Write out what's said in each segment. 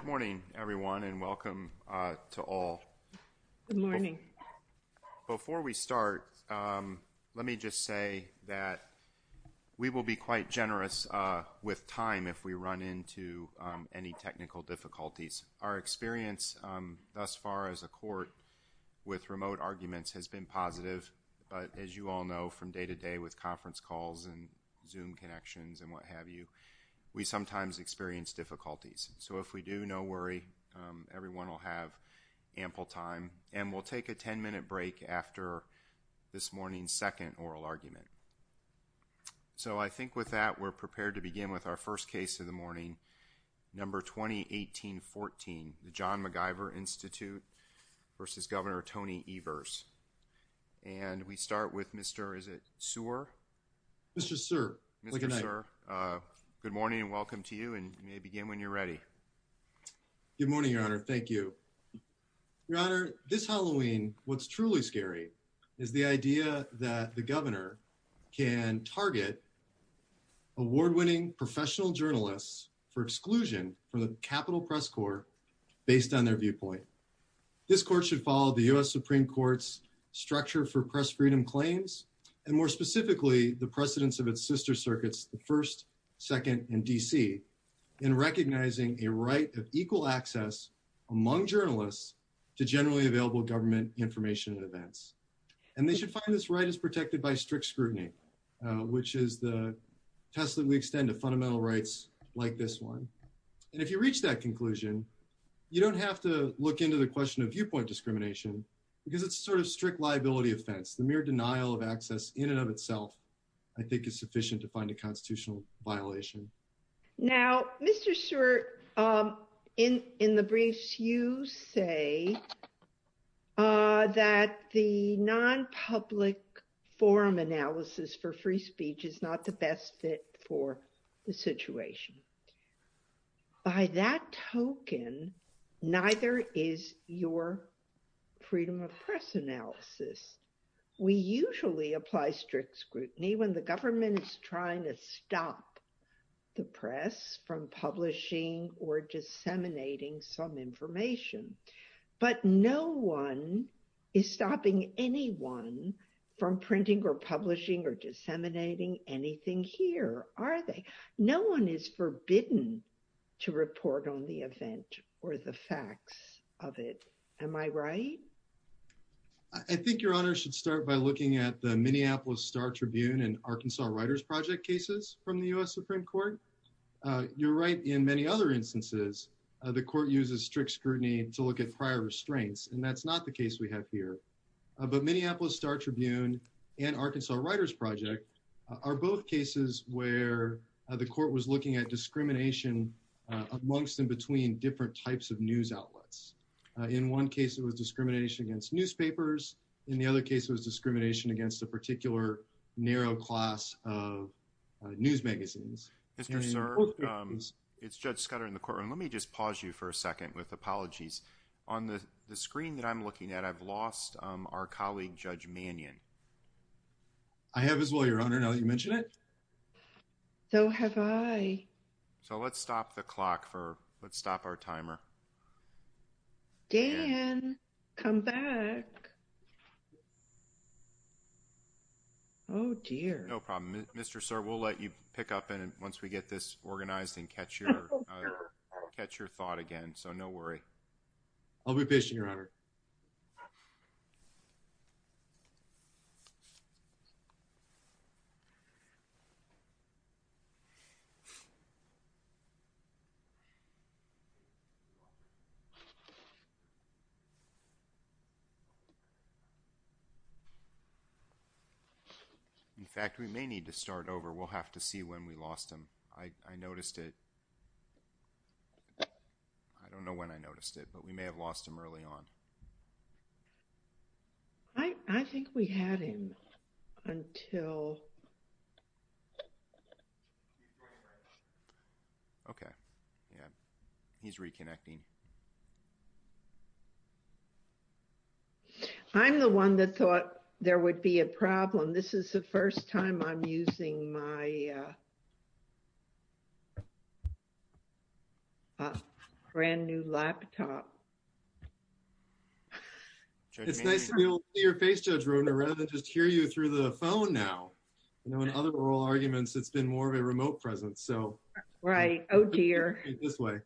Good morning everyone and welcome to all. Before we start, let me just say that we will be quite generous with time if we run into any technical difficulties. Our experience thus far as a court with remote arguments has been positive, but as you all know from day to day with conference calls and Zoom connections and what have you, we sometimes experience difficulties. So if we do, no worry, everyone will have ample time and we'll take a 10-minute break after this morning's second oral argument. So I think with that we're prepared to begin with our first case of the morning, number 2018-14, the John MacIver Institute v. Governor Tony Evers. And we start with Mr. Sear. Mr. Sear, good morning and you may begin when you're ready. Good morning, Your Honor. Thank you. Your Honor, this Halloween, what's truly scary is the idea that the governor can target award-winning professional journalists for exclusion from the Capitol Press Corps based on their viewpoint. This court should follow the U.S. Supreme Court's structure for press freedom claims and more specifically the precedence of its sister circuits, the first, second, and D.C. in recognizing a right of equal access among journalists to generally available government information and events. And they should find this right is protected by strict scrutiny, which is the test that we extend to fundamental rights like this one. And if you reach that conclusion, you don't have to look into the question of viewpoint discrimination because it's sort of strict liability offense. The mere denial of access in and of itself, I think, is sufficient to find a constitutional violation. Now, Mr. Sear, in the briefs, you say that the non-public forum analysis for free speech is not the best fit for the situation. By that token, neither is your freedom of press analysis. We usually apply strict scrutiny when the government is trying to stop the press from publishing or disseminating some information. But no one is stopping anyone from printing or publishing or disseminating anything here, are they? No one is forbidden to report on the event or the facts of it. Am I right? I think your honor should start by looking at the Minneapolis Star Tribune and Arkansas Writers Project cases from the U.S. Supreme Court. You're right. In many other instances, the court uses strict scrutiny to look at prior restraints, and that's not the case we have here. But Minneapolis Star Tribune and Arkansas Writers Project are both cases where the court was looking at discrimination amongst and between different types of news outlets. In one case, it was discrimination against newspapers. In the other case, it was discrimination against a particular narrow class of news magazines. Mr. Sear, it's Judge Scudder in the courtroom. Let me just pause you for a second with apologies. On the screen that I'm looking at, I've lost our colleague Judge Mannion. I have as well, your honor, now that you mention it. So have I. So let's stop the clock for, let's stop our timer. Dan, come back. Oh dear. No problem. Mr. Sear, we'll let you pick up once we get this organized and catch your thought again. So no worry. I'll be patient, your honor. In fact, we may need to start over. We'll have to see when we lost him. I noticed it. I don't know when I noticed it, but we may have lost him early on. I think we had him until. Okay. Yeah. He's reconnecting. I'm the one that thought there would be a problem. This is the first time I'm using my brand new laptop. It's nice to be able to see your face, Judge Rohner, rather than just hear you through the phone now. You know, in other oral arguments, it's been more of a remote presence. So. Right. Oh, dear. This way.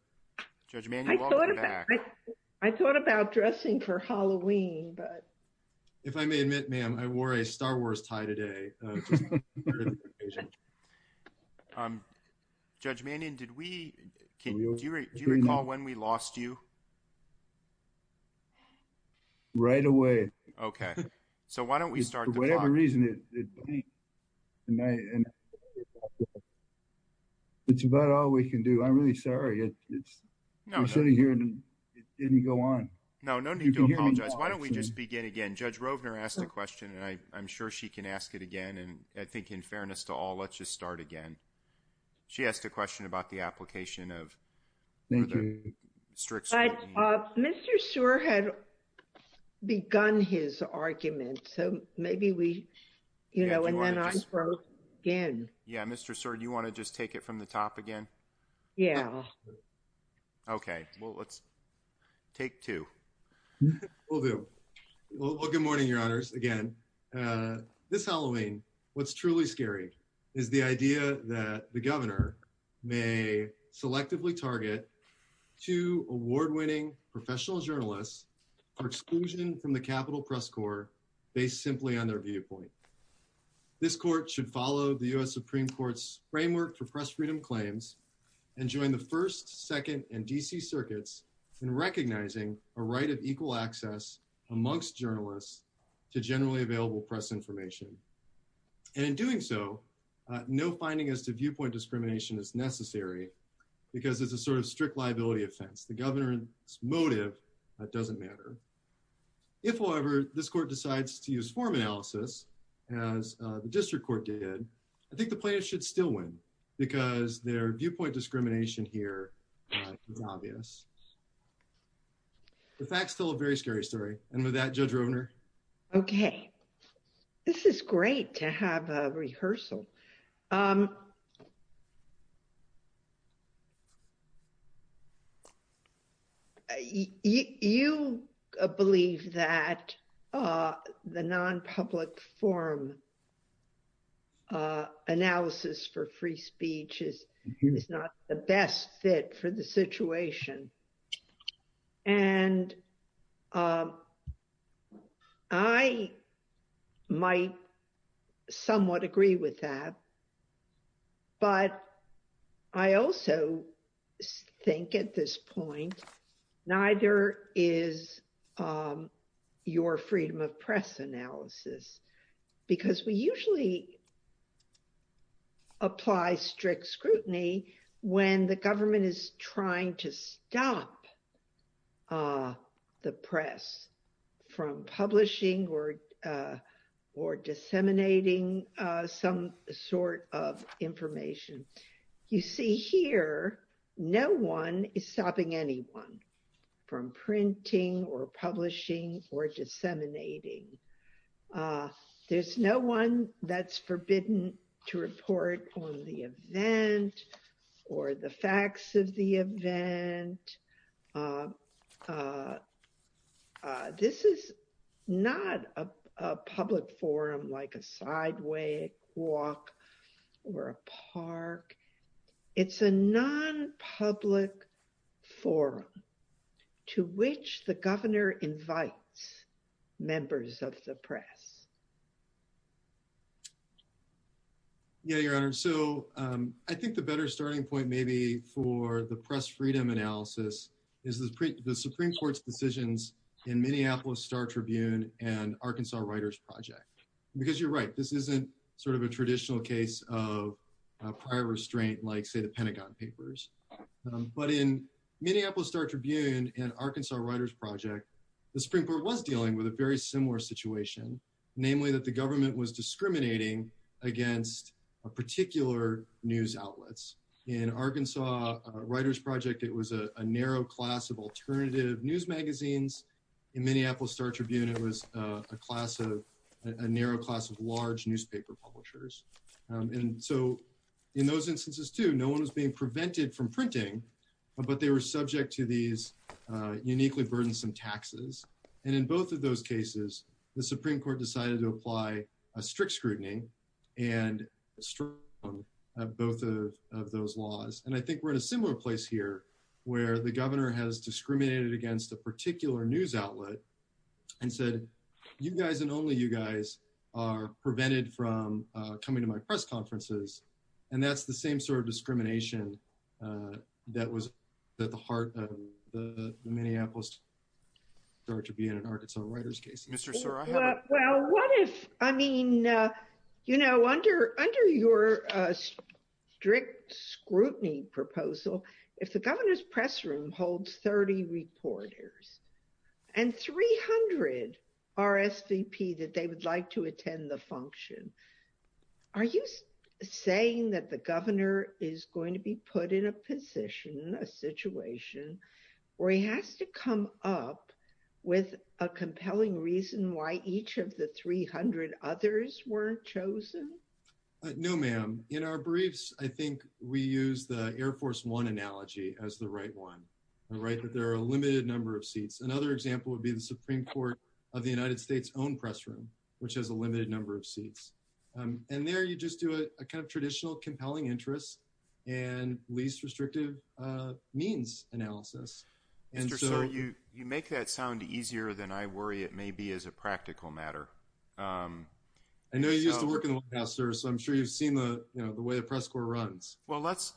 I thought about dressing for Halloween, but. If I may admit, ma'am, I wore a Star Wars tie today. It's just part of the occasion. Judge Mannion, do you recall when we lost you? Right away. Okay. So why don't we start the clock? For whatever reason, it's about all we can do. I'm really sorry. No. We're sitting here and it didn't go on. No, no need to apologize. Why don't we just begin again? Judge Rovner asked a question, I'm sure she can ask it again. And I think in fairness to all, let's just start again. She asked a question about the application of. Thank you. Mr. Seward had begun his argument. So maybe we, you know, and then I broke in. Yeah. Mr. Seward, you want to just take it from the top again? Yeah. Okay. Well, let's take two. We'll do. Well, good morning, Your Honors. Again, this Halloween, what's truly scary is the idea that the governor may selectively target two award-winning professional journalists for exclusion from the Capitol Press Corps based simply on their viewpoint. This court should follow the U.S. Supreme Court's framework for press freedom claims and join the first, second, and D.C. circuits in recognizing a right of equal access amongst journalists to generally available press information. And in doing so, no finding as to viewpoint discrimination is necessary because it's a sort of strict liability offense. The governor's motive doesn't matter. If, however, this court decides to use form analysis, as the district court did, I think the plaintiffs should still win because their viewpoint discrimination here is obvious. The facts tell a very scary story. And with that, Judge Rovner. Okay. This is great to have a rehearsal. You believe that the non-public form analysis for free speech is not the best fit for the situation. And I might somewhat agree with that. But I also think at this point, neither is your freedom of press analysis. Because we usually apply strict scrutiny when the government is trying to stop the press from publishing or disseminating some sort of information. You see here, no one is stopping anyone from printing or publishing or disseminating. There's no one that's forbidden to report on the event or the facts of the event. This is not a public forum like a sidewalk or a park. It's a non-public forum to which the governor invites members of the press. Yeah, Your Honor. So I think the better starting point maybe for the press freedom analysis is the Supreme Court's decisions in Minneapolis Star Tribune and Arkansas Writers Project. Because you're right, this isn't sort of a traditional case of prior restraint, like say the Pentagon Papers. But in Minneapolis Star Tribune and Arkansas Writers Project, the Supreme Court was dealing with a very similar situation. Namely, that the government was discriminating against particular news outlets. In Arkansas Writers Project, it was a narrow class of alternative news magazines. In Minneapolis Star Tribune, it was a class of – a narrow class of large newspaper publishers. And so in those instances too, no one was being prevented from printing, but they were subject to these apply strict scrutiny and both of those laws. And I think we're in a similar place here where the governor has discriminated against a particular news outlet and said, you guys and only you guys are prevented from coming to my press conferences. And that's the same sort of discrimination that was at the heart of the Minneapolis Star Tribune and Arkansas Writers Project. Well, what if – I mean, under your strict scrutiny proposal, if the governor's press room holds 30 reporters and 300 are SVP that they would like to attend the function, are you saying that the governor is going to be put in a position, a situation, where he has to come up with a compelling reason why each of the 300 others were chosen? No, ma'am. In our briefs, I think we use the Air Force One analogy as the right one, the right that there are a limited number of seats. Another example would be the Supreme Court of the United States own press room, which has a limited number of seats. And there you just do a kind of traditional compelling interest and least restrictive means analysis. Mr. Sir, you make that sound easier than I worry it may be as a practical matter. I know you used to work in the White House, sir, so I'm sure you've seen the way the press corps runs. Well, let's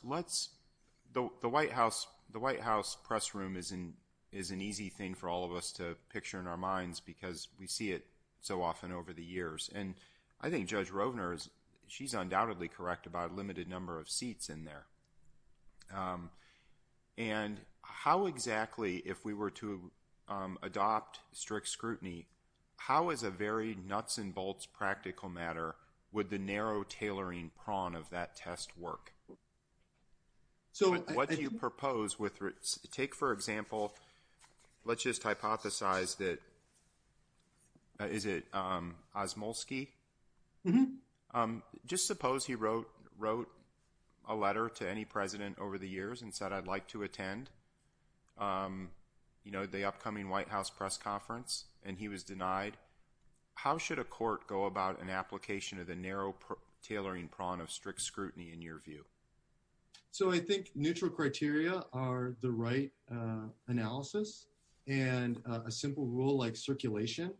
– the White House press room is an easy thing for all of us to picture in our minds because we see it so often over the years. And I think Judge Rovner, she's undoubtedly correct about a limited number of seats in there. And how exactly, if we were to adopt strict scrutiny, how is a very nuts and bolts practical matter would the narrow tailoring prong of that test work? So what do you propose with – take, for example, let's just hypothesize that – is it Osmulski? Just suppose he wrote a letter to any president over the years and said, I'd like to attend the upcoming White House press conference, and he was denied. How should a court go about an So I think neutral criteria are the right analysis, and a simple rule like circulation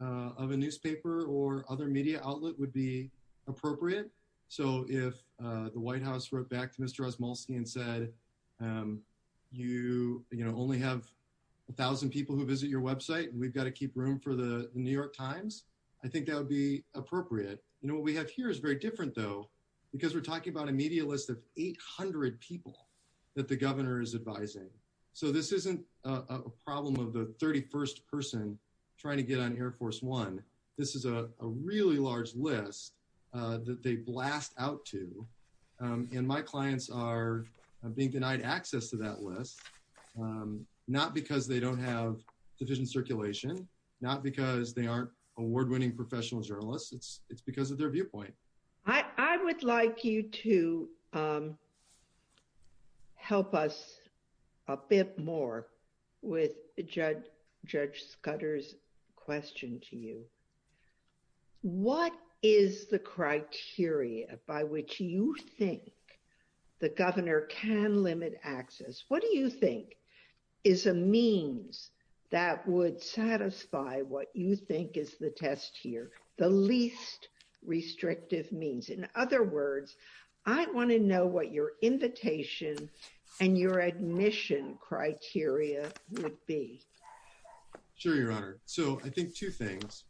of a newspaper or other media outlet would be appropriate. So if the White House wrote back to Mr. Osmulski and said, you only have 1,000 people who visit your website and we've got to keep room for The New York Times, I think that would be appropriate. What we have here is very different, though, because we're talking about a media list of 800 people that the governor is advising. So this isn't a problem of the 31st person trying to get on Air Force One. This is a really large list that they blast out to, and my clients are being denied access to that list, not because they don't have division circulation, not because they aren't award-winning professional journalists. It's because of their viewpoint. I would like you to help us a bit more with Judge Scudder's question to you. What is the criteria by which you think the governor can limit access? What do you think is a means that would satisfy what you think is the test here, the least restrictive means? In other words, I want to know what your invitation and your admission criteria would be. Sure, Your Honor. So I think two things.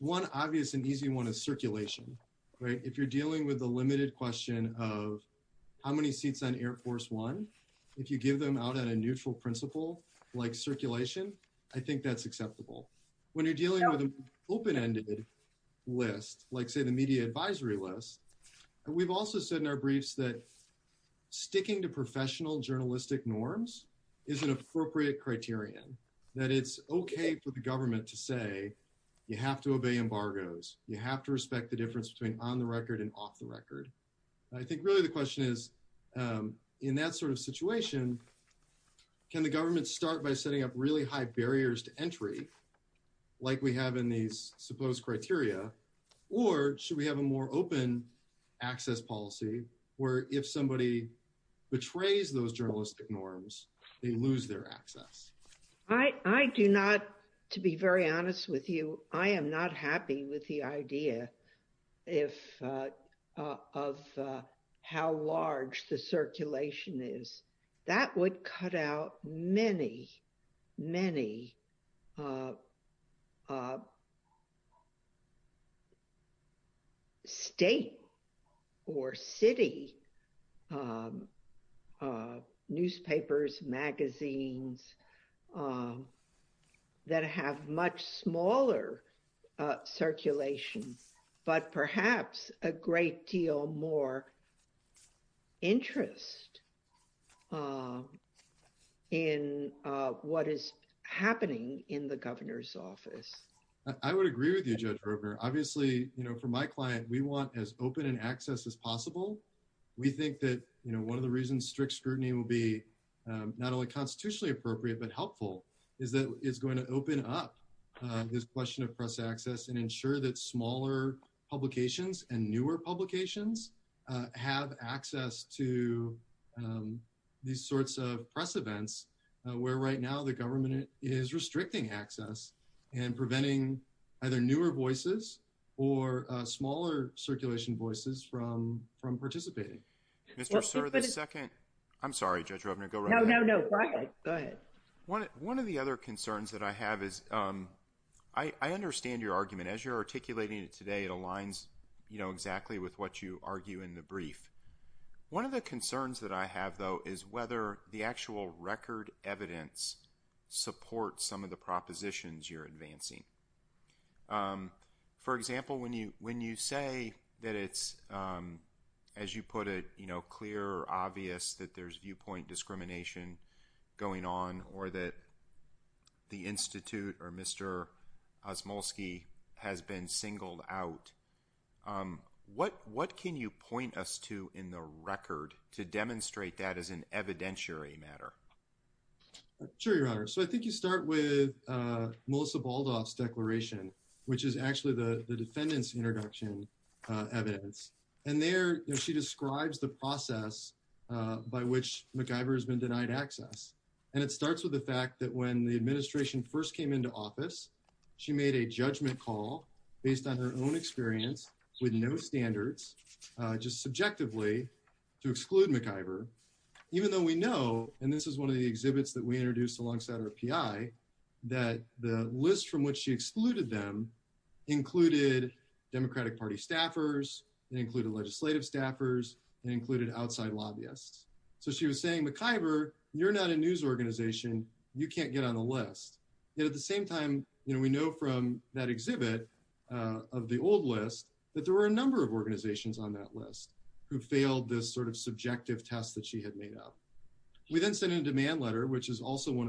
One obvious and easy one is circulation. If you're dealing with the limited question of how many seats on Air Force One, if you give them out on a neutral principle like circulation, I think that's acceptable. When you're dealing with an open-ended list, like, say, the media advisory list, we've also said in our briefs that sticking to professional journalistic norms is an appropriate criterion, that it's okay for the government to say you have to obey embargoes, you have to respect the difference between on the record and off the record. I think really the question is, in that sort of situation, can the government start by setting up really high barriers to entry, like we have in these supposed criteria, or should we have a more open access policy where if somebody betrays those journalistic norms, they lose their access? I do not, to be very honest with you, I am not happy with the idea of how large the circulation is. That would cut out many, many state or city newspapers, magazines that have much smaller circulation, but perhaps a great deal more interest in what is happening in the governor's office. I would agree with you, Judge Roper. Obviously, for my client, we want as open an access as possible. We think that one of the reasons strict scrutiny will be not only constitutionally appropriate but helpful is that it's going to open up this question of press access and ensure that smaller publications and newer publications have access to these sorts of press events, where right now the government is restricting access and preventing either newer voices or smaller circulation voices from participating. Mr. Sir, the second, I'm sorry, Judge Roper, go right ahead. No, no, no, go ahead. One of the other concerns that I have is, I understand your argument. As you're articulating it today, it aligns exactly with what you argue in the brief. One of the concerns that I have, though, is whether the actual record evidence supports some of the propositions you're making. When you say that it's, as you put it, clear or obvious that there's viewpoint discrimination going on or that the institute or Mr. Osmulski has been singled out, what can you point us to in the record to demonstrate that as an evidentiary matter? Sure, Your Honor. I think you start with Melissa Baldoff's declaration, which is actually the defendant's introduction evidence. There, she describes the process by which McIver has been denied access. It starts with the fact that when the administration first came into office, she made a judgment call based on her own experience with no standards, just subjectively, to exclude McIver, even though we know, and this is one of the exhibits that we included, Democratic Party staffers, legislative staffers, and outside lobbyists. She was saying, McIver, you're not a news organization. You can't get on the list. At the same time, we know from that exhibit of the old list that there were a number of organizations on that list who failed this subjective test that she had made up. We then sent in a demand letter, which is also one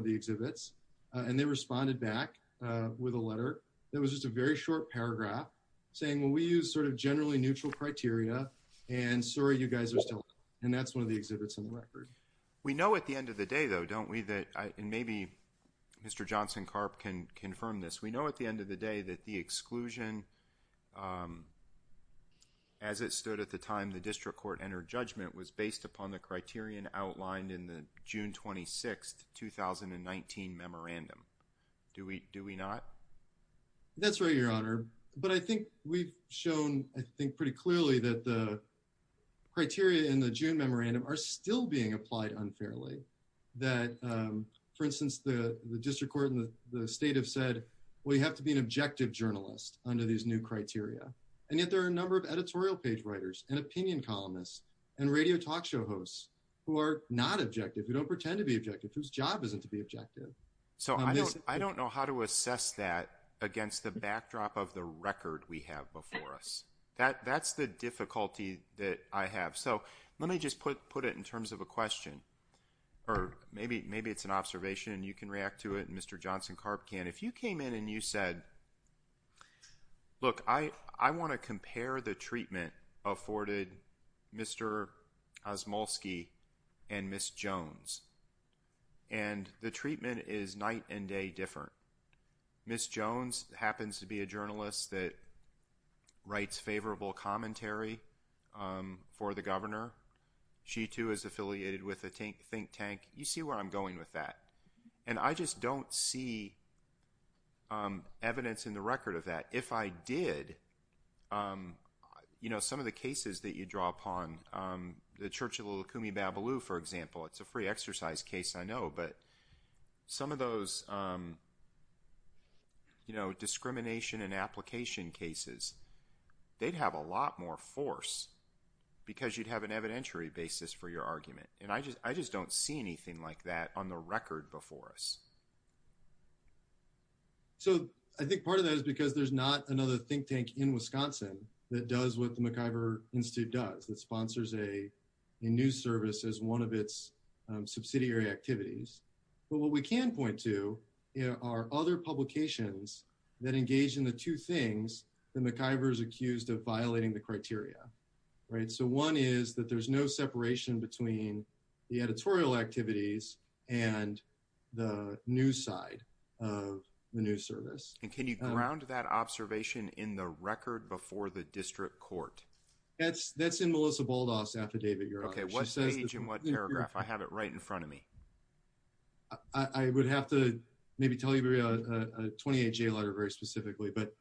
paragraph, saying, well, we use sort of generally neutral criteria, and sorry, you guys are still out. And that's one of the exhibits in the record. We know at the end of the day, though, don't we, that, and maybe Mr. Johnson-Karp can confirm this, we know at the end of the day that the exclusion, as it stood at the time the district court entered judgment, was based upon the criterion outlined in the June 26, 2019, memorandum. Do we not? That's right, Your Honor. But I think we've shown, I think, pretty clearly that the criteria in the June memorandum are still being applied unfairly, that, for instance, the district court and the state have said, well, you have to be an objective journalist under these new criteria. And yet there are a number of editorial page writers and opinion columnists and radio talk hosts who are not objective, who don't pretend to be objective, whose job isn't to be objective. So I don't know how to assess that against the backdrop of the record we have before us. That's the difficulty that I have. So let me just put it in terms of a question, or maybe it's an observation, and you can react to it, and Mr. Johnson-Karp can. If you came in and you said, look, I want to compare the treatment afforded Mr. Osmulski and Ms. Jones. And the treatment is night and day different. Ms. Jones happens to be a journalist that writes favorable commentary for the governor. She, too, is affiliated with a think tank. You see where I'm going with that. And I just don't see evidence in the record of that. If I did, you know, some of the cases that you draw upon, the Churchill-Lukumi-Babaloo, for example, it's a free exercise case, I know, but some of those, you know, discrimination and application cases, they'd have a lot more force because you'd have an evidentiary basis for your argument. And I just don't see anything like that on the record before us. So I think part of that is because there's not another think tank in Wisconsin that does what the McIver Institute does, that sponsors a news service as one of its subsidiary activities. But what we can point to are other publications that engage in the two things that McIver is between the editorial activities and the news side of the news service. And can you ground that observation in the record before the district court? That's in Melissa Baldass's affidavit, Your Honor. Okay, what page and what paragraph? I have it right in front of me. I would have to maybe tell you a 28-J letter very specifically. But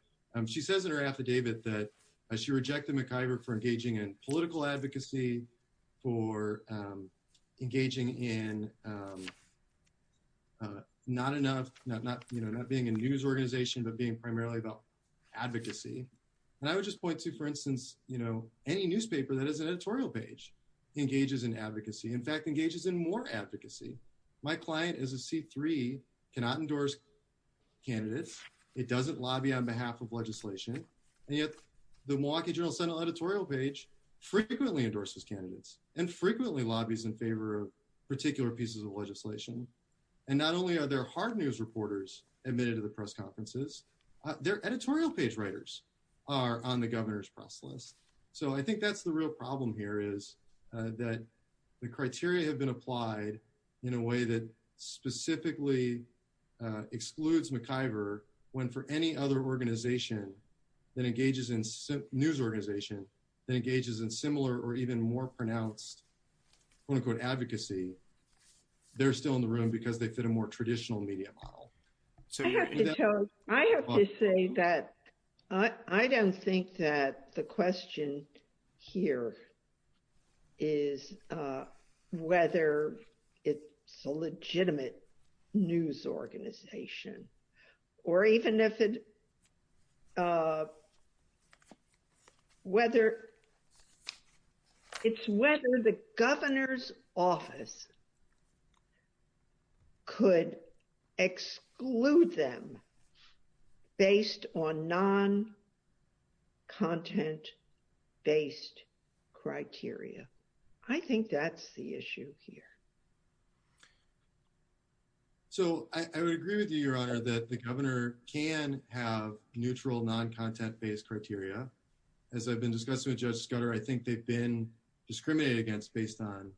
she says in her affidavit that she rejected McIver for engaging in political advocacy, for engaging in not enough, you know, not being a news organization, but being primarily about advocacy. And I would just point to, for instance, you know, any newspaper that has an editorial page engages in advocacy, in fact, engages in more advocacy. My client is a C3, cannot endorse candidates. It doesn't lobby on behalf of legislation. And yet the Milwaukee Journal Senate editorial page frequently endorses candidates and frequently lobbies in favor of particular pieces of legislation. And not only are there hard news reporters admitted to the press conferences, their editorial page writers are on the governor's press list. So I think that's real problem here is that the criteria have been applied in a way that specifically excludes McIver when for any other organization that engages in news organization that engages in similar or even more pronounced, quote unquote, advocacy, they're still in the room because they fit a more traditional media model. I have to say that I don't think that the question here is whether it's a legitimate news organization or even if it, whether it's whether the governor's office could exclude them based on non-content based criteria. I think that's the issue here. So I would agree with you, your honor, that the governor can have neutral non-content based criteria. As I've been discussing with Judge Scudder, I think they've been discriminated against based on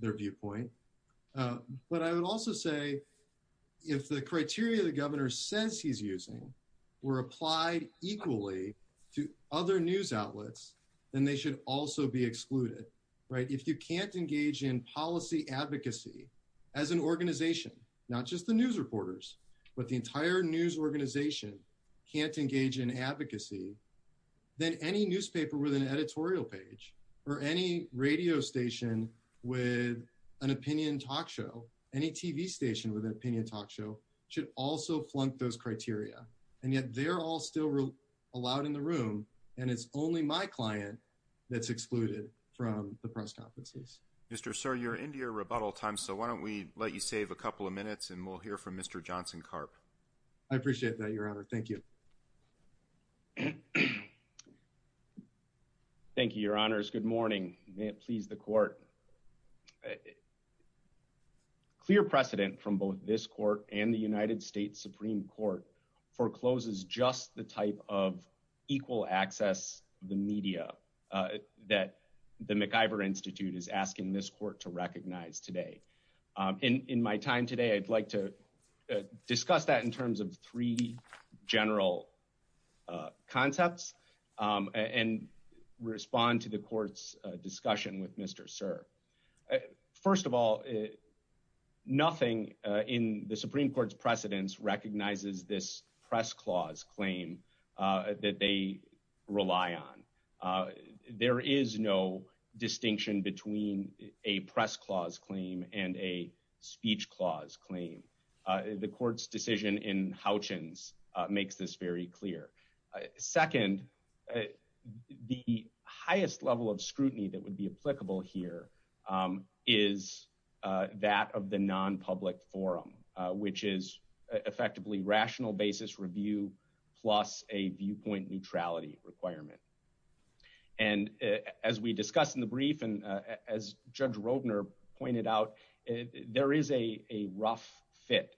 their viewpoint. But I would also say if the criteria the governor says he's using were applied equally to other news outlets, then they should also be excluded, right? If you can't engage in policy advocacy as an organization, not just the news reporters, but the entire news organization can't engage in advocacy, then any newspaper with an editorial page or any radio station with an opinion talk show, any TV station with an opinion talk show should also flunk those and yet they're all still allowed in the room and it's only my client that's excluded from the press conferences. Mr. Sir, you're into your rebuttal time, so why don't we let you save a couple of minutes and we'll hear from Mr. Johnson Carp. I appreciate that, your honor. Thank you. Thank you, your honors. Good morning. May it please the court. A clear precedent from both this court and the United States Supreme Court forecloses just the type of equal access the media that the McIver Institute is asking this court to recognize today. In my time today, I'd like to discuss that in terms of three general concepts and respond to the court's discussion with Mr. Sir. First of all, nothing in the Supreme Court's precedence recognizes this press clause claim that they rely on. There is no distinction between a press clause claim and a speech clause claim. The court's decision in Houchens makes this very clear. Second, the highest level of scrutiny that would be applicable here is that of the non-public forum, which is effectively rational basis review plus a viewpoint neutrality requirement. And as we discussed in the brief and as Judge Rodner pointed out, there is a rough fit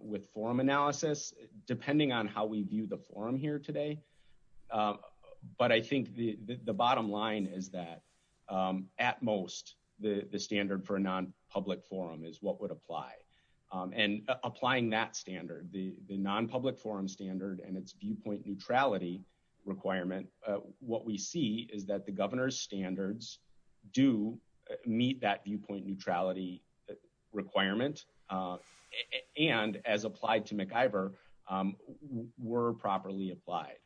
with forum analysis, depending on how we view the forum here today. But I think the bottom line is that at most the standard for a non-public forum is what would apply. And applying that standard, the non-public forum standard and its viewpoint neutrality requirement, what we see is that the governor's standards do meet that viewpoint neutrality requirement and as applied to McIver were properly applied.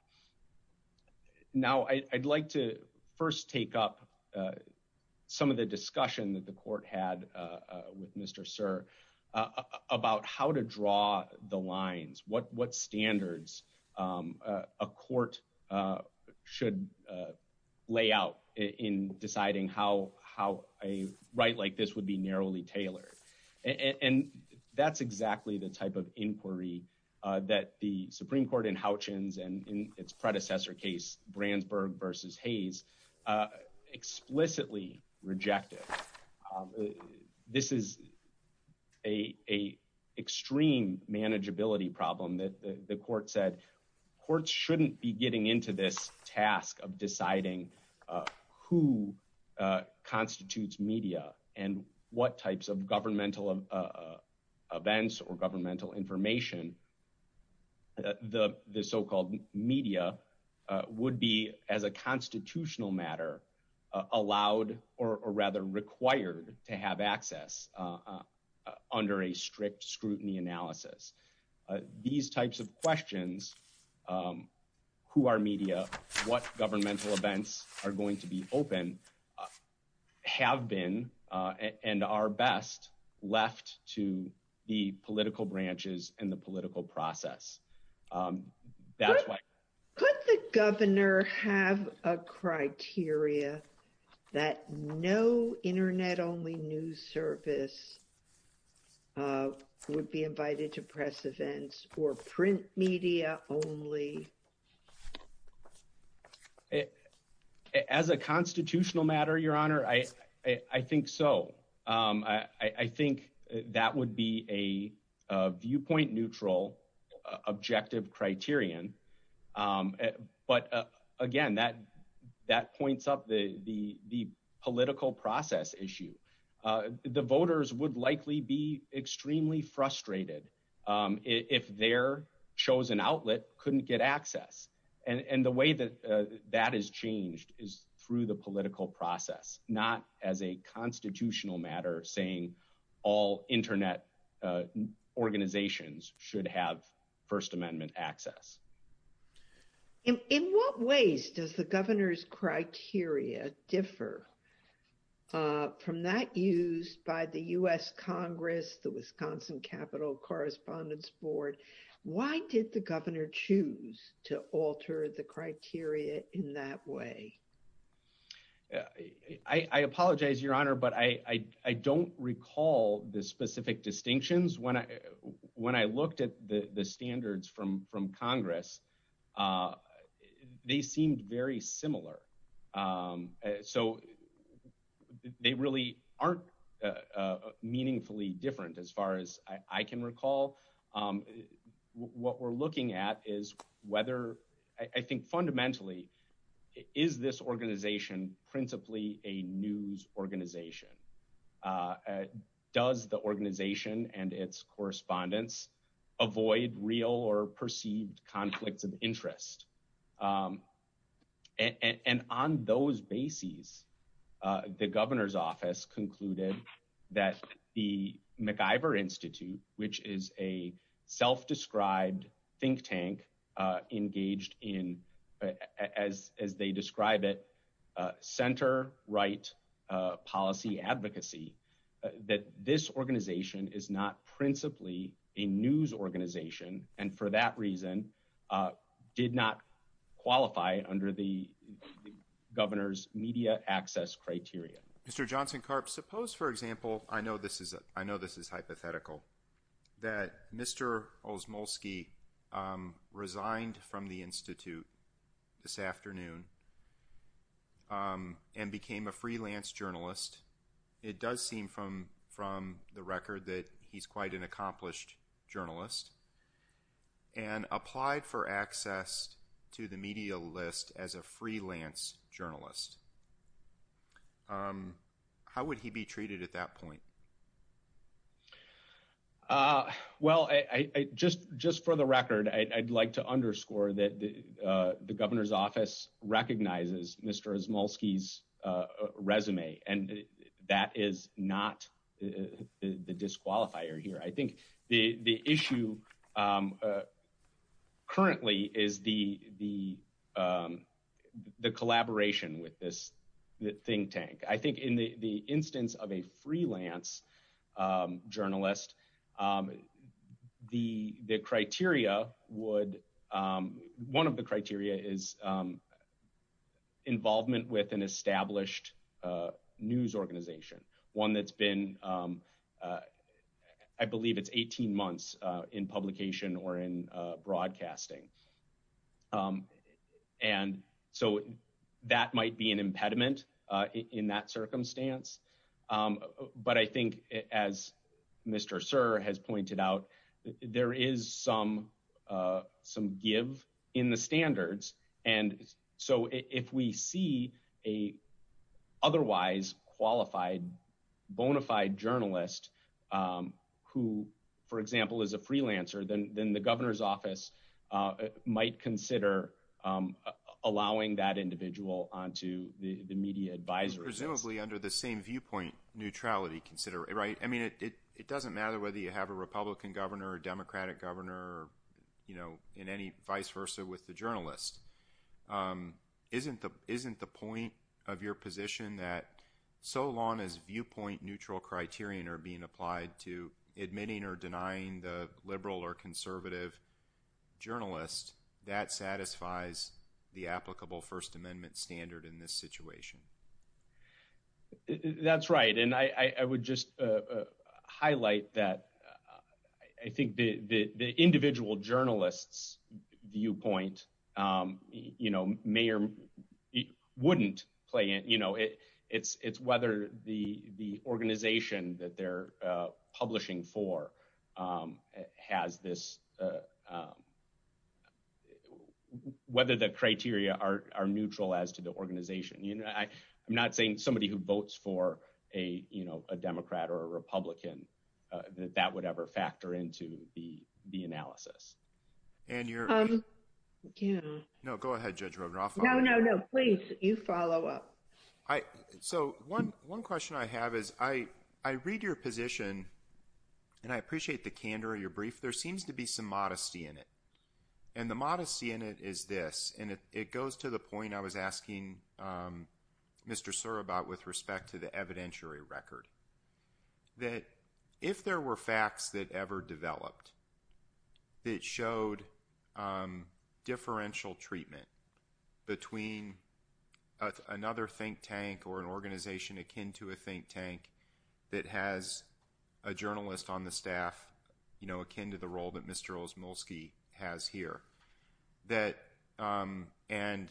Now, I'd like to first take up some of the discussion that the court had with Mr. Sir about how to draw the lines, what standards a court should lay out in deciding how a right like this would be narrowly tailored. And that's exactly the type of inquiry that the Supreme Court in Houchens and in its predecessor case, Brandsburg versus Hayes, explicitly rejected. This is a extreme manageability problem that the court said courts shouldn't be getting into this task of deciding who constitutes media and what types of governmental events or governmental information the so-called media would be as a constitutional matter allowed or rather required to have access under a strict scrutiny analysis. These types of questions, who are media, what governmental events are going to be open, have been and are best left to the political branches and the have a criteria that no internet only news service would be invited to press events or print media only. As a constitutional matter, your honor, I think so. I think that would be a viewpoint neutral objective criterion. But again, that points up the political process issue. The voters would likely be extremely frustrated if their chosen outlet couldn't get access. And the way that that has changed is through the political process, not as a constitutional matter saying all internet organizations should have first amendment access. In what ways does the governor's criteria differ from that used by the U.S. Congress, the Wisconsin Capital Correspondence Board? Why did the governor choose to alter the criteria in that way? I apologize, your honor, but I don't recall the specific distinctions. When I looked at the standards from Congress, they seemed very similar. So they really aren't meaningfully different as far as I can recall. What we're looking at is whether, I think fundamentally, is this organization principally a news organization? Does the organization and its correspondence avoid real or perceived conflicts of interest? And on those bases, the governor's office concluded that the MacIver Institute, which is a in, as they describe it, center right policy advocacy, that this organization is not principally a news organization, and for that reason, did not qualify under the governor's media access criteria. Mr. Johnson-Karp, suppose, for example, I know this is hypothetical, that Mr. Osmulski resigned from the institute this afternoon and became a freelance journalist. It does seem from the record that he's quite an accomplished journalist, and applied for access to the media list as a freelance journalist. How would he be treated at that point? Well, just for the record, I'd like to underscore that the governor's office recognizes Mr. Osmulski's resume, and that is not the disqualifier here. I think the issue currently is the collaboration with this think tank. I think in the instance of a freelance journalist, the criteria would, one of the criteria is involvement with an established news organization, one that's been, I believe it's 18 months in publication or in broadcasting, and so that might be an impediment in that circumstance, but I think as Mr. Sirr has bona fide journalist who, for example, is a freelancer, then the governor's office might consider allowing that individual onto the media advisory list. Presumably under the same viewpoint neutrality, right? I mean, it doesn't matter whether you have a Republican governor, a Democratic governor, you know, and any vice versa with the journalist. Isn't the point of your position that so long as viewpoint neutral criteria are being applied to admitting or denying the liberal or conservative journalist, that satisfies the applicable First Amendment standard in this situation? That's right, and I would just highlight that. I think the individual journalist's viewpoint, you know, may or wouldn't play in, you know, it's whether the organization that they're publishing for has this, whether the criteria are neutral as to the organization. You know, I'm not saying somebody who votes for a, you know, a Democrat or a Republican, that that would ever factor into the analysis. Anne, you're... Yeah. No, go ahead, Judge Rogan. I'll follow up. No, no, no. Please, you follow up. So one question I have is I read your position, and I appreciate the candor of your brief. There seems to be some modesty in it, and the modesty in it is this, and it goes to the point I was asking Mr. Surabhat with respect to the evidentiary record, that if there were facts that ever developed that showed differential treatment between another think tank or an organization akin to a think tank that has a journalist on the staff, you know, akin to the role that Mr. has here, that, and,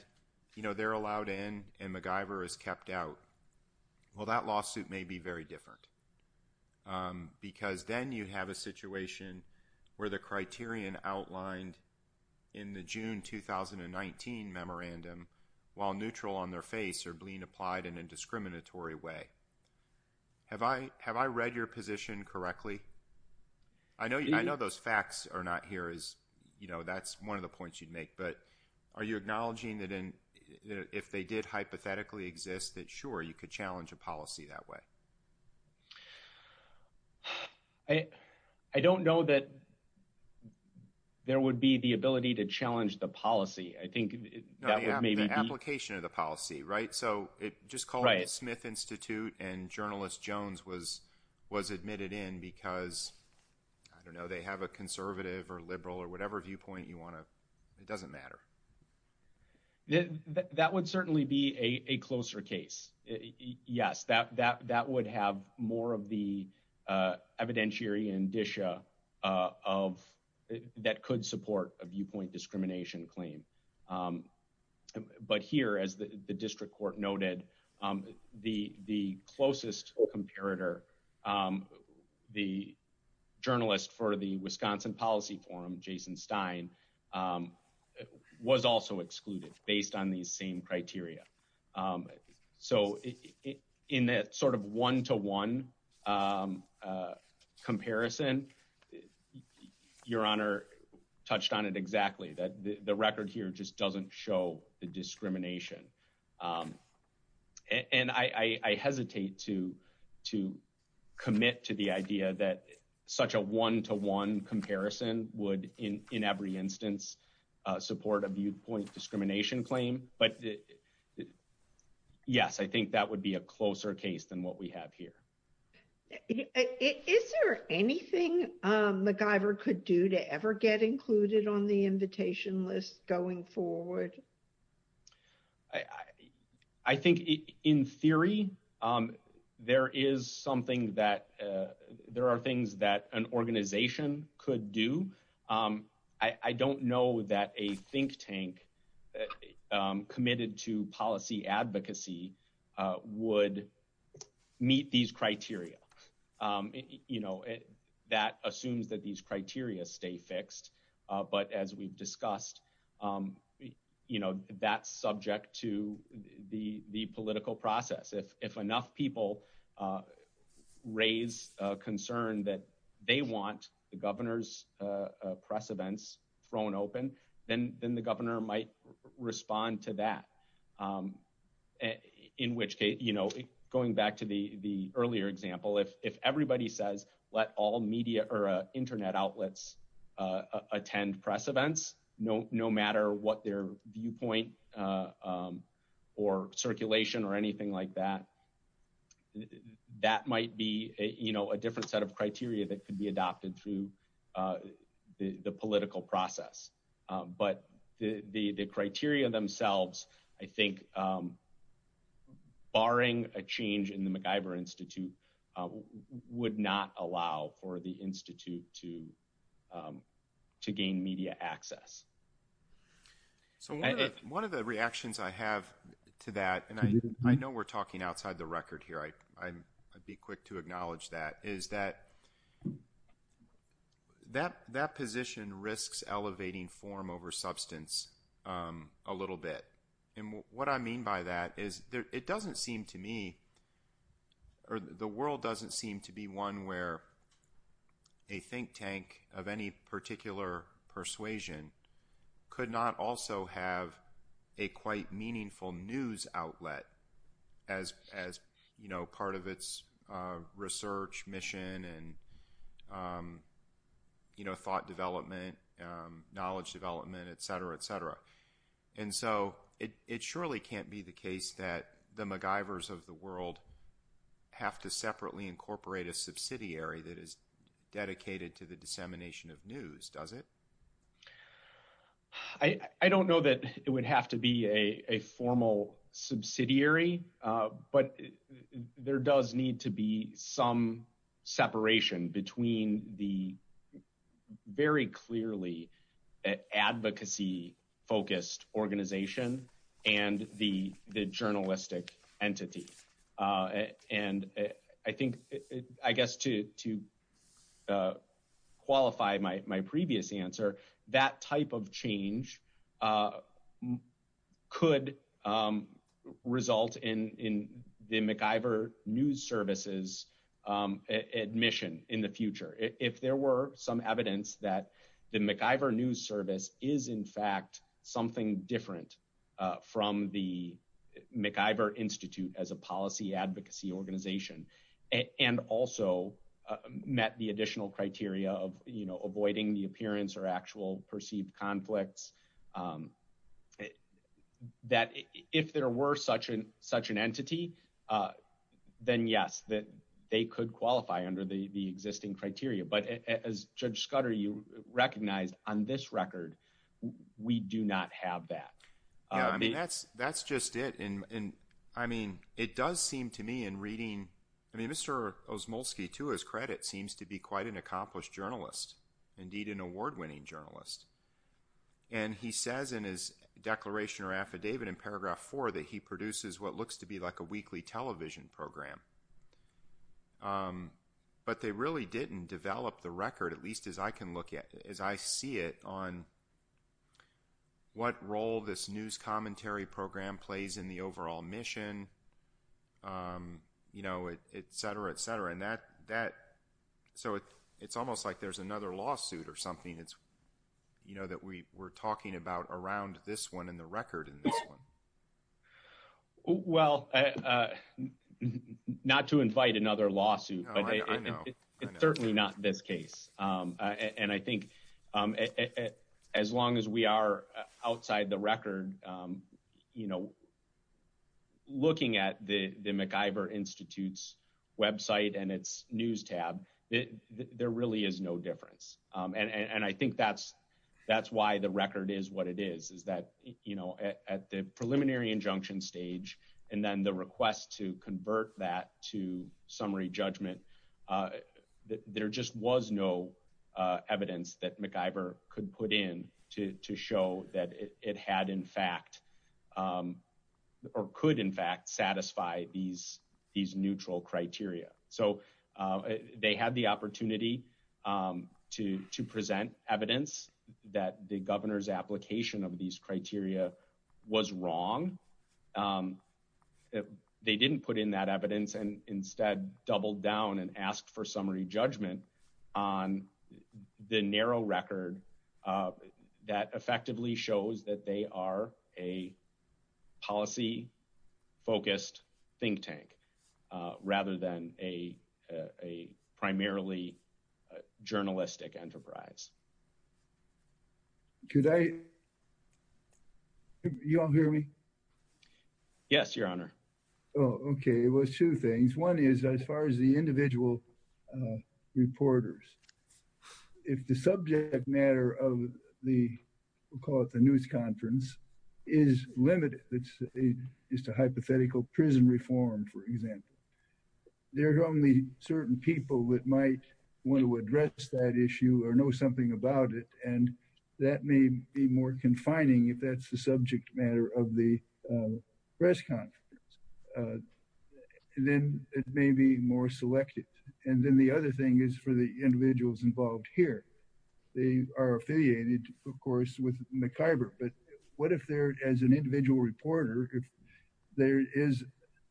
you know, they're allowed in, and MacGyver is kept out. Well, that lawsuit may be very different, because then you have a situation where the criterion outlined in the June 2019 memorandum, while neutral on their face, are being applied in a discriminatory way. Have I read your position correctly? I know those facts are not here, that's one of the points you'd make, but are you acknowledging that if they did hypothetically exist that, sure, you could challenge a policy that way? I don't know that there would be the ability to challenge the policy. I think that would maybe be The application of the policy, right? So it just called the Smith Institute, and journalist Jones was admitted in because, I don't know, they have a conservative or liberal or whatever viewpoint you want to, it doesn't matter. That would certainly be a closer case. Yes, that would have more of the evidentiary indicia of, that could support a viewpoint discrimination claim. But here, as the district court noted, the closest comparator, the journalist for the Wisconsin Policy Forum, Jason Stein, was also excluded based on these same criteria. So, in that sort of one-to-one comparison, Your Honor touched on it exactly, that the record here just doesn't show the discrimination. And I hesitate to commit to the idea that such a one-to-one comparison would, in every instance, support a viewpoint discrimination claim. But yes, that would be a closer case than what we have here. Is there anything MacGyver could do to ever get included on the invitation list going forward? I think, in theory, there is something that, there are things that an organization could do. I don't know that a think tank committed to policy advocacy would meet these criteria. That assumes that these criteria stay fixed. But as we've discussed, that's subject to the political process. If enough people raise a concern that they want the governor's press events thrown open, then the governor might respond to that. In which case, going back to the earlier example, if everybody says, let all media or internet outlets attend press events, no matter what their viewpoint or circulation or anything like that, that might be a different set of criteria that could be adopted through the political process. But the criteria themselves, I think, barring a change in the MacGyver Institute, would not allow for the Institute to gain media access. So one of the reactions I have to that, and I know we're talking outside the record here, I'd be quick to acknowledge that, is that that position risks elevating form over substance a little bit. And what I mean by that is it doesn't seem to me, or the world doesn't seem to be one where a think tank of any particular persuasion could not also have a quite meaningful news outlet as part of its research mission and thought development, knowledge development, et cetera, et cetera. And so it surely can't be the case that the MacGyvers of the world have to separately incorporate a subsidiary that is dedicated to the dissemination of news, does it? I don't know that it would have to be a formal subsidiary, but there does need to be some separation between the very clearly advocacy-focused organization and the journalistic entity. And I think, I guess to qualify my previous answer, that type of change could result in the MacGyver News Service's admission in the future. If there were some advocacy organization and also met the additional criteria of avoiding the appearance or actual perceived conflicts, that if there were such an entity, then yes, that they could qualify under the existing criteria. But as Judge Scudder, you recognized on this record, we do not have that. Yeah, I mean, that's just it. And I mean, it does seem to me in reading, I mean, Mr. Osmulski, to his credit, seems to be quite an accomplished journalist, indeed an award-winning journalist. And he says in his declaration or affidavit in paragraph four that he produces what looks to be like a weekly television program. But they really didn't develop the record, at least as I can look at, as I see it, on what role this news commentary program plays in the overall mission, et cetera, et cetera. And that, so it's almost like there's another lawsuit or something that we're talking about around this one and the record in this one. Well, not to invite another lawsuit, but it's certainly not this case. And I think as long as we are outside the record, looking at the MacIver Institute's website and its news tab, there really is no difference. And I think that's why the record is what it is, is that at the preliminary injunction stage, and then the request to convert that to summary judgment, there just was no evidence that MacIver could put in to show that it had in fact, or could in fact satisfy these neutral criteria. So they had the opportunity to present evidence that the governor's application of these criteria was wrong. They didn't put in that evidence and instead doubled down and asked for summary judgment on the narrow record that effectively shows that they are a policy-focused think tank, rather than a primarily journalistic enterprise. Could I, you all hear me? Yes, your honor. Oh, okay. Well, two things. One is as far as the individual reporters, if the subject matter of the, we'll call it the news conference, is limited. It's a hypothetical prison reform, for example. There are only certain people that might want to address that issue or know something about it. And that may be more confining if that's the subject matter of the press conference. Then it may be more selective. And then the other thing is for the individuals involved here. They are affiliated, of course, with MacIver. But what if there, as an individual reporter, if there is,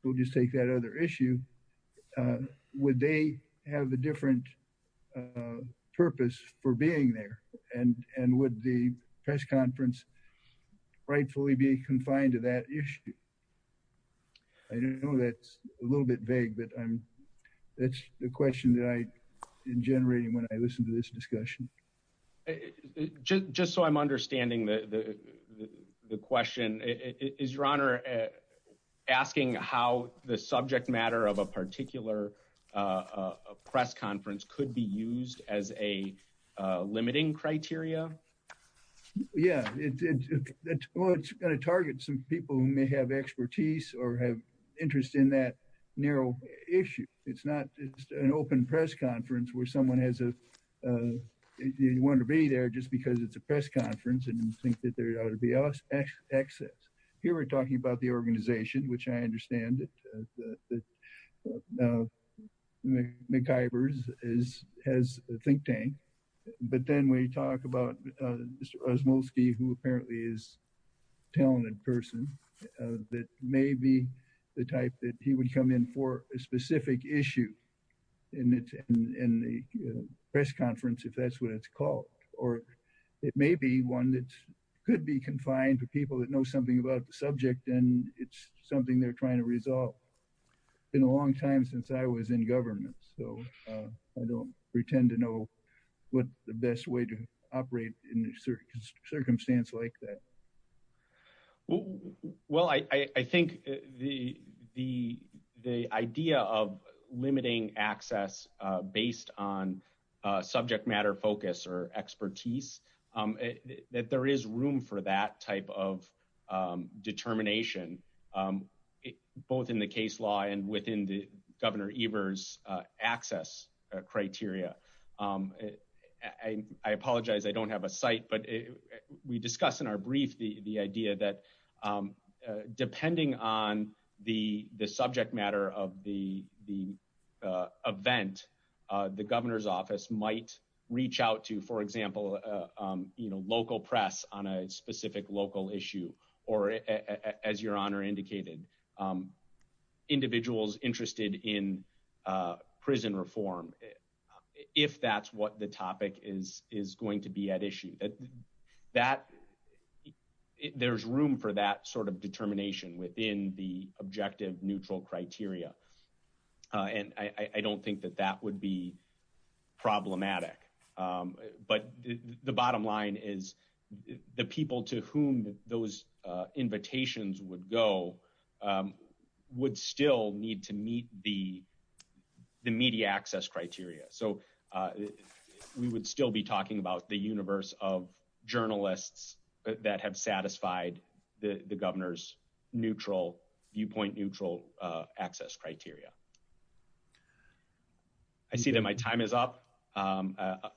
we'll just take that other issue, would they have a different purpose for being there? And would the press conference rightfully be confined to that issue? I know that's a little bit vague, but that's the question that I'm generating when I listen to this discussion. Just so I'm understanding the question, is your honor asking how the subject matter of a particular press conference could be used as a limiting criteria? Yeah, it's going to target some people who may have expertise or have interest in that narrow issue. It's not just an open press conference where someone has a, you want to be there just because it's a press conference and you think that there ought to be access. Here we're talking about the organization, which I understand that MacIver has a think tank. But then we talk about Mr. Osmulski, who apparently is a talented person that may be the type that he would come in for a specific issue in the press conference, if that's what it's called. Or it may be one that could be confined to people that know something about the subject, and it's something they're trying to resolve. It's been a long time since I was in government, so I don't pretend to know what the best way to operate in a circumstance like that. Well, I think the idea of limiting access based on subject matter focus or expertise, that there is room for that type of determination, both in the case law and within the access criteria. I apologize, I don't have a site, but we discussed in our brief the idea that depending on the subject matter of the event, the governor's office might reach out to, for example, local press on a specific local issue, or as your honor indicated, individuals interested in prison reform, if that's what the topic is going to be at issue. There's room for that sort of determination within the objective neutral criteria. And I don't think that that would be problematic. But the bottom line is, the people to whom those invitations would go would still need to meet the media access criteria. We would still be talking about the universe of journalists that have satisfied the governor's viewpoint neutral access criteria. I see that my time is up.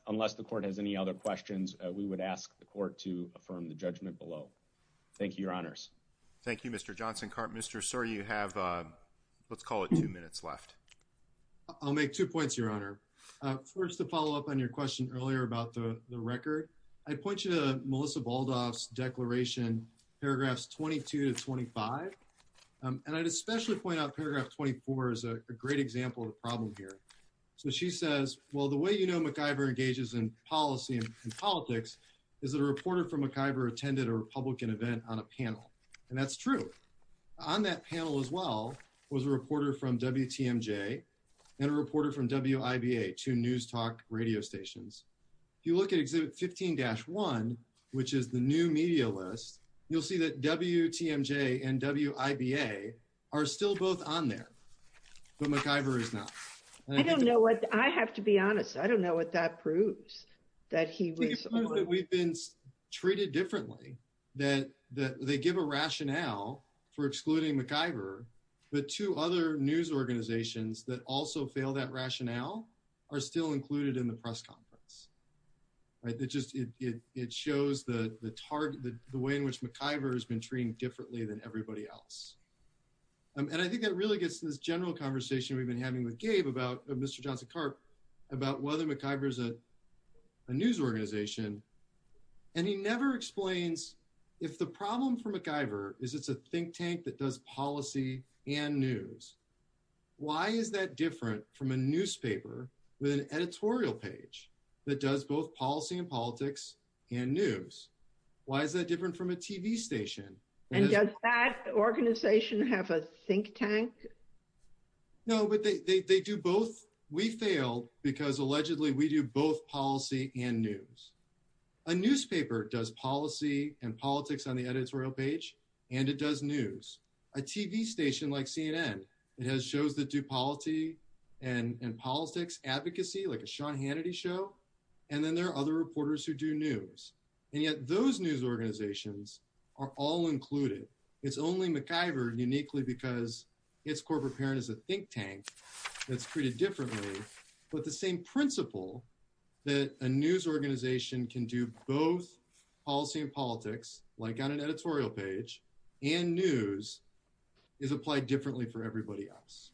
Unless the court has any other questions, we would ask the court to affirm the judgment below. Thank you, your honors. Thank you, Mr. Johnson. Mr. Sir, you have, let's call it two minutes left. I'll make two points, your honor. First, to follow up on your question earlier about the record, I point you to Melissa Baldoff's declaration, paragraphs 22 to 25. And I'd especially point out paragraph 24 is a great example of the problem here. So she says, well, the way you know, MacIver engages in policy and politics is a reporter from MacIver attended a Republican event on a panel. And that's true. On that panel as well, was a reporter from WTMJ and a reporter from WIBA, two news talk radio stations. If you look at exhibit 15-1, which is the new media list, you'll see that WTMJ and WIBA are still both on there. But MacIver is not. I don't know what, I have to be honest. I don't know what that proves, that he was. We've been treated differently, that they give a rationale for excluding MacIver, but two other news organizations that also fail that rationale are still included in the press conference. Right. It just, it shows the target, the way in which MacIver has been treated differently than everybody else. And I think that really gets to this general conversation we've been having with Gabe about Mr. Johnson Carp, about whether MacIver is a news organization. And he never explains if the problem for MacIver is it's a think tank that does policy and news. Why is that different from a newspaper with an editorial page that does both policy and politics and news? Why is that different from a TV station? And does that organization have a think tank? No, but they do both. We failed because allegedly we do both policy and news. A newspaper does policy and politics on the editorial page, and it does news. A TV station like CNN, it has shows that do policy and politics advocacy, like a Sean Hannity show. And then there are other reporters who do news. And yet those news organizations are all included. It's only MacIver uniquely because its corporate parent is a think tank that's treated differently. But the same principle that a news organization can do both policy and politics, like on an editorial page and news, is applied differently for everybody else.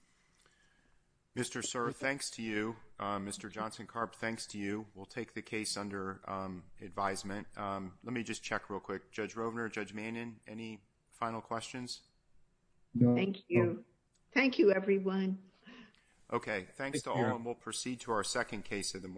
Mr. Sir, thanks to you. Mr. Johnson Carp, thanks to you. We'll take the case under advisement. Let me just check real quick. Judge Rovner, Judge Mannin, any final questions? Thank you. Thank you, everyone. Okay, thanks to all. And we'll proceed to our second case of the morning.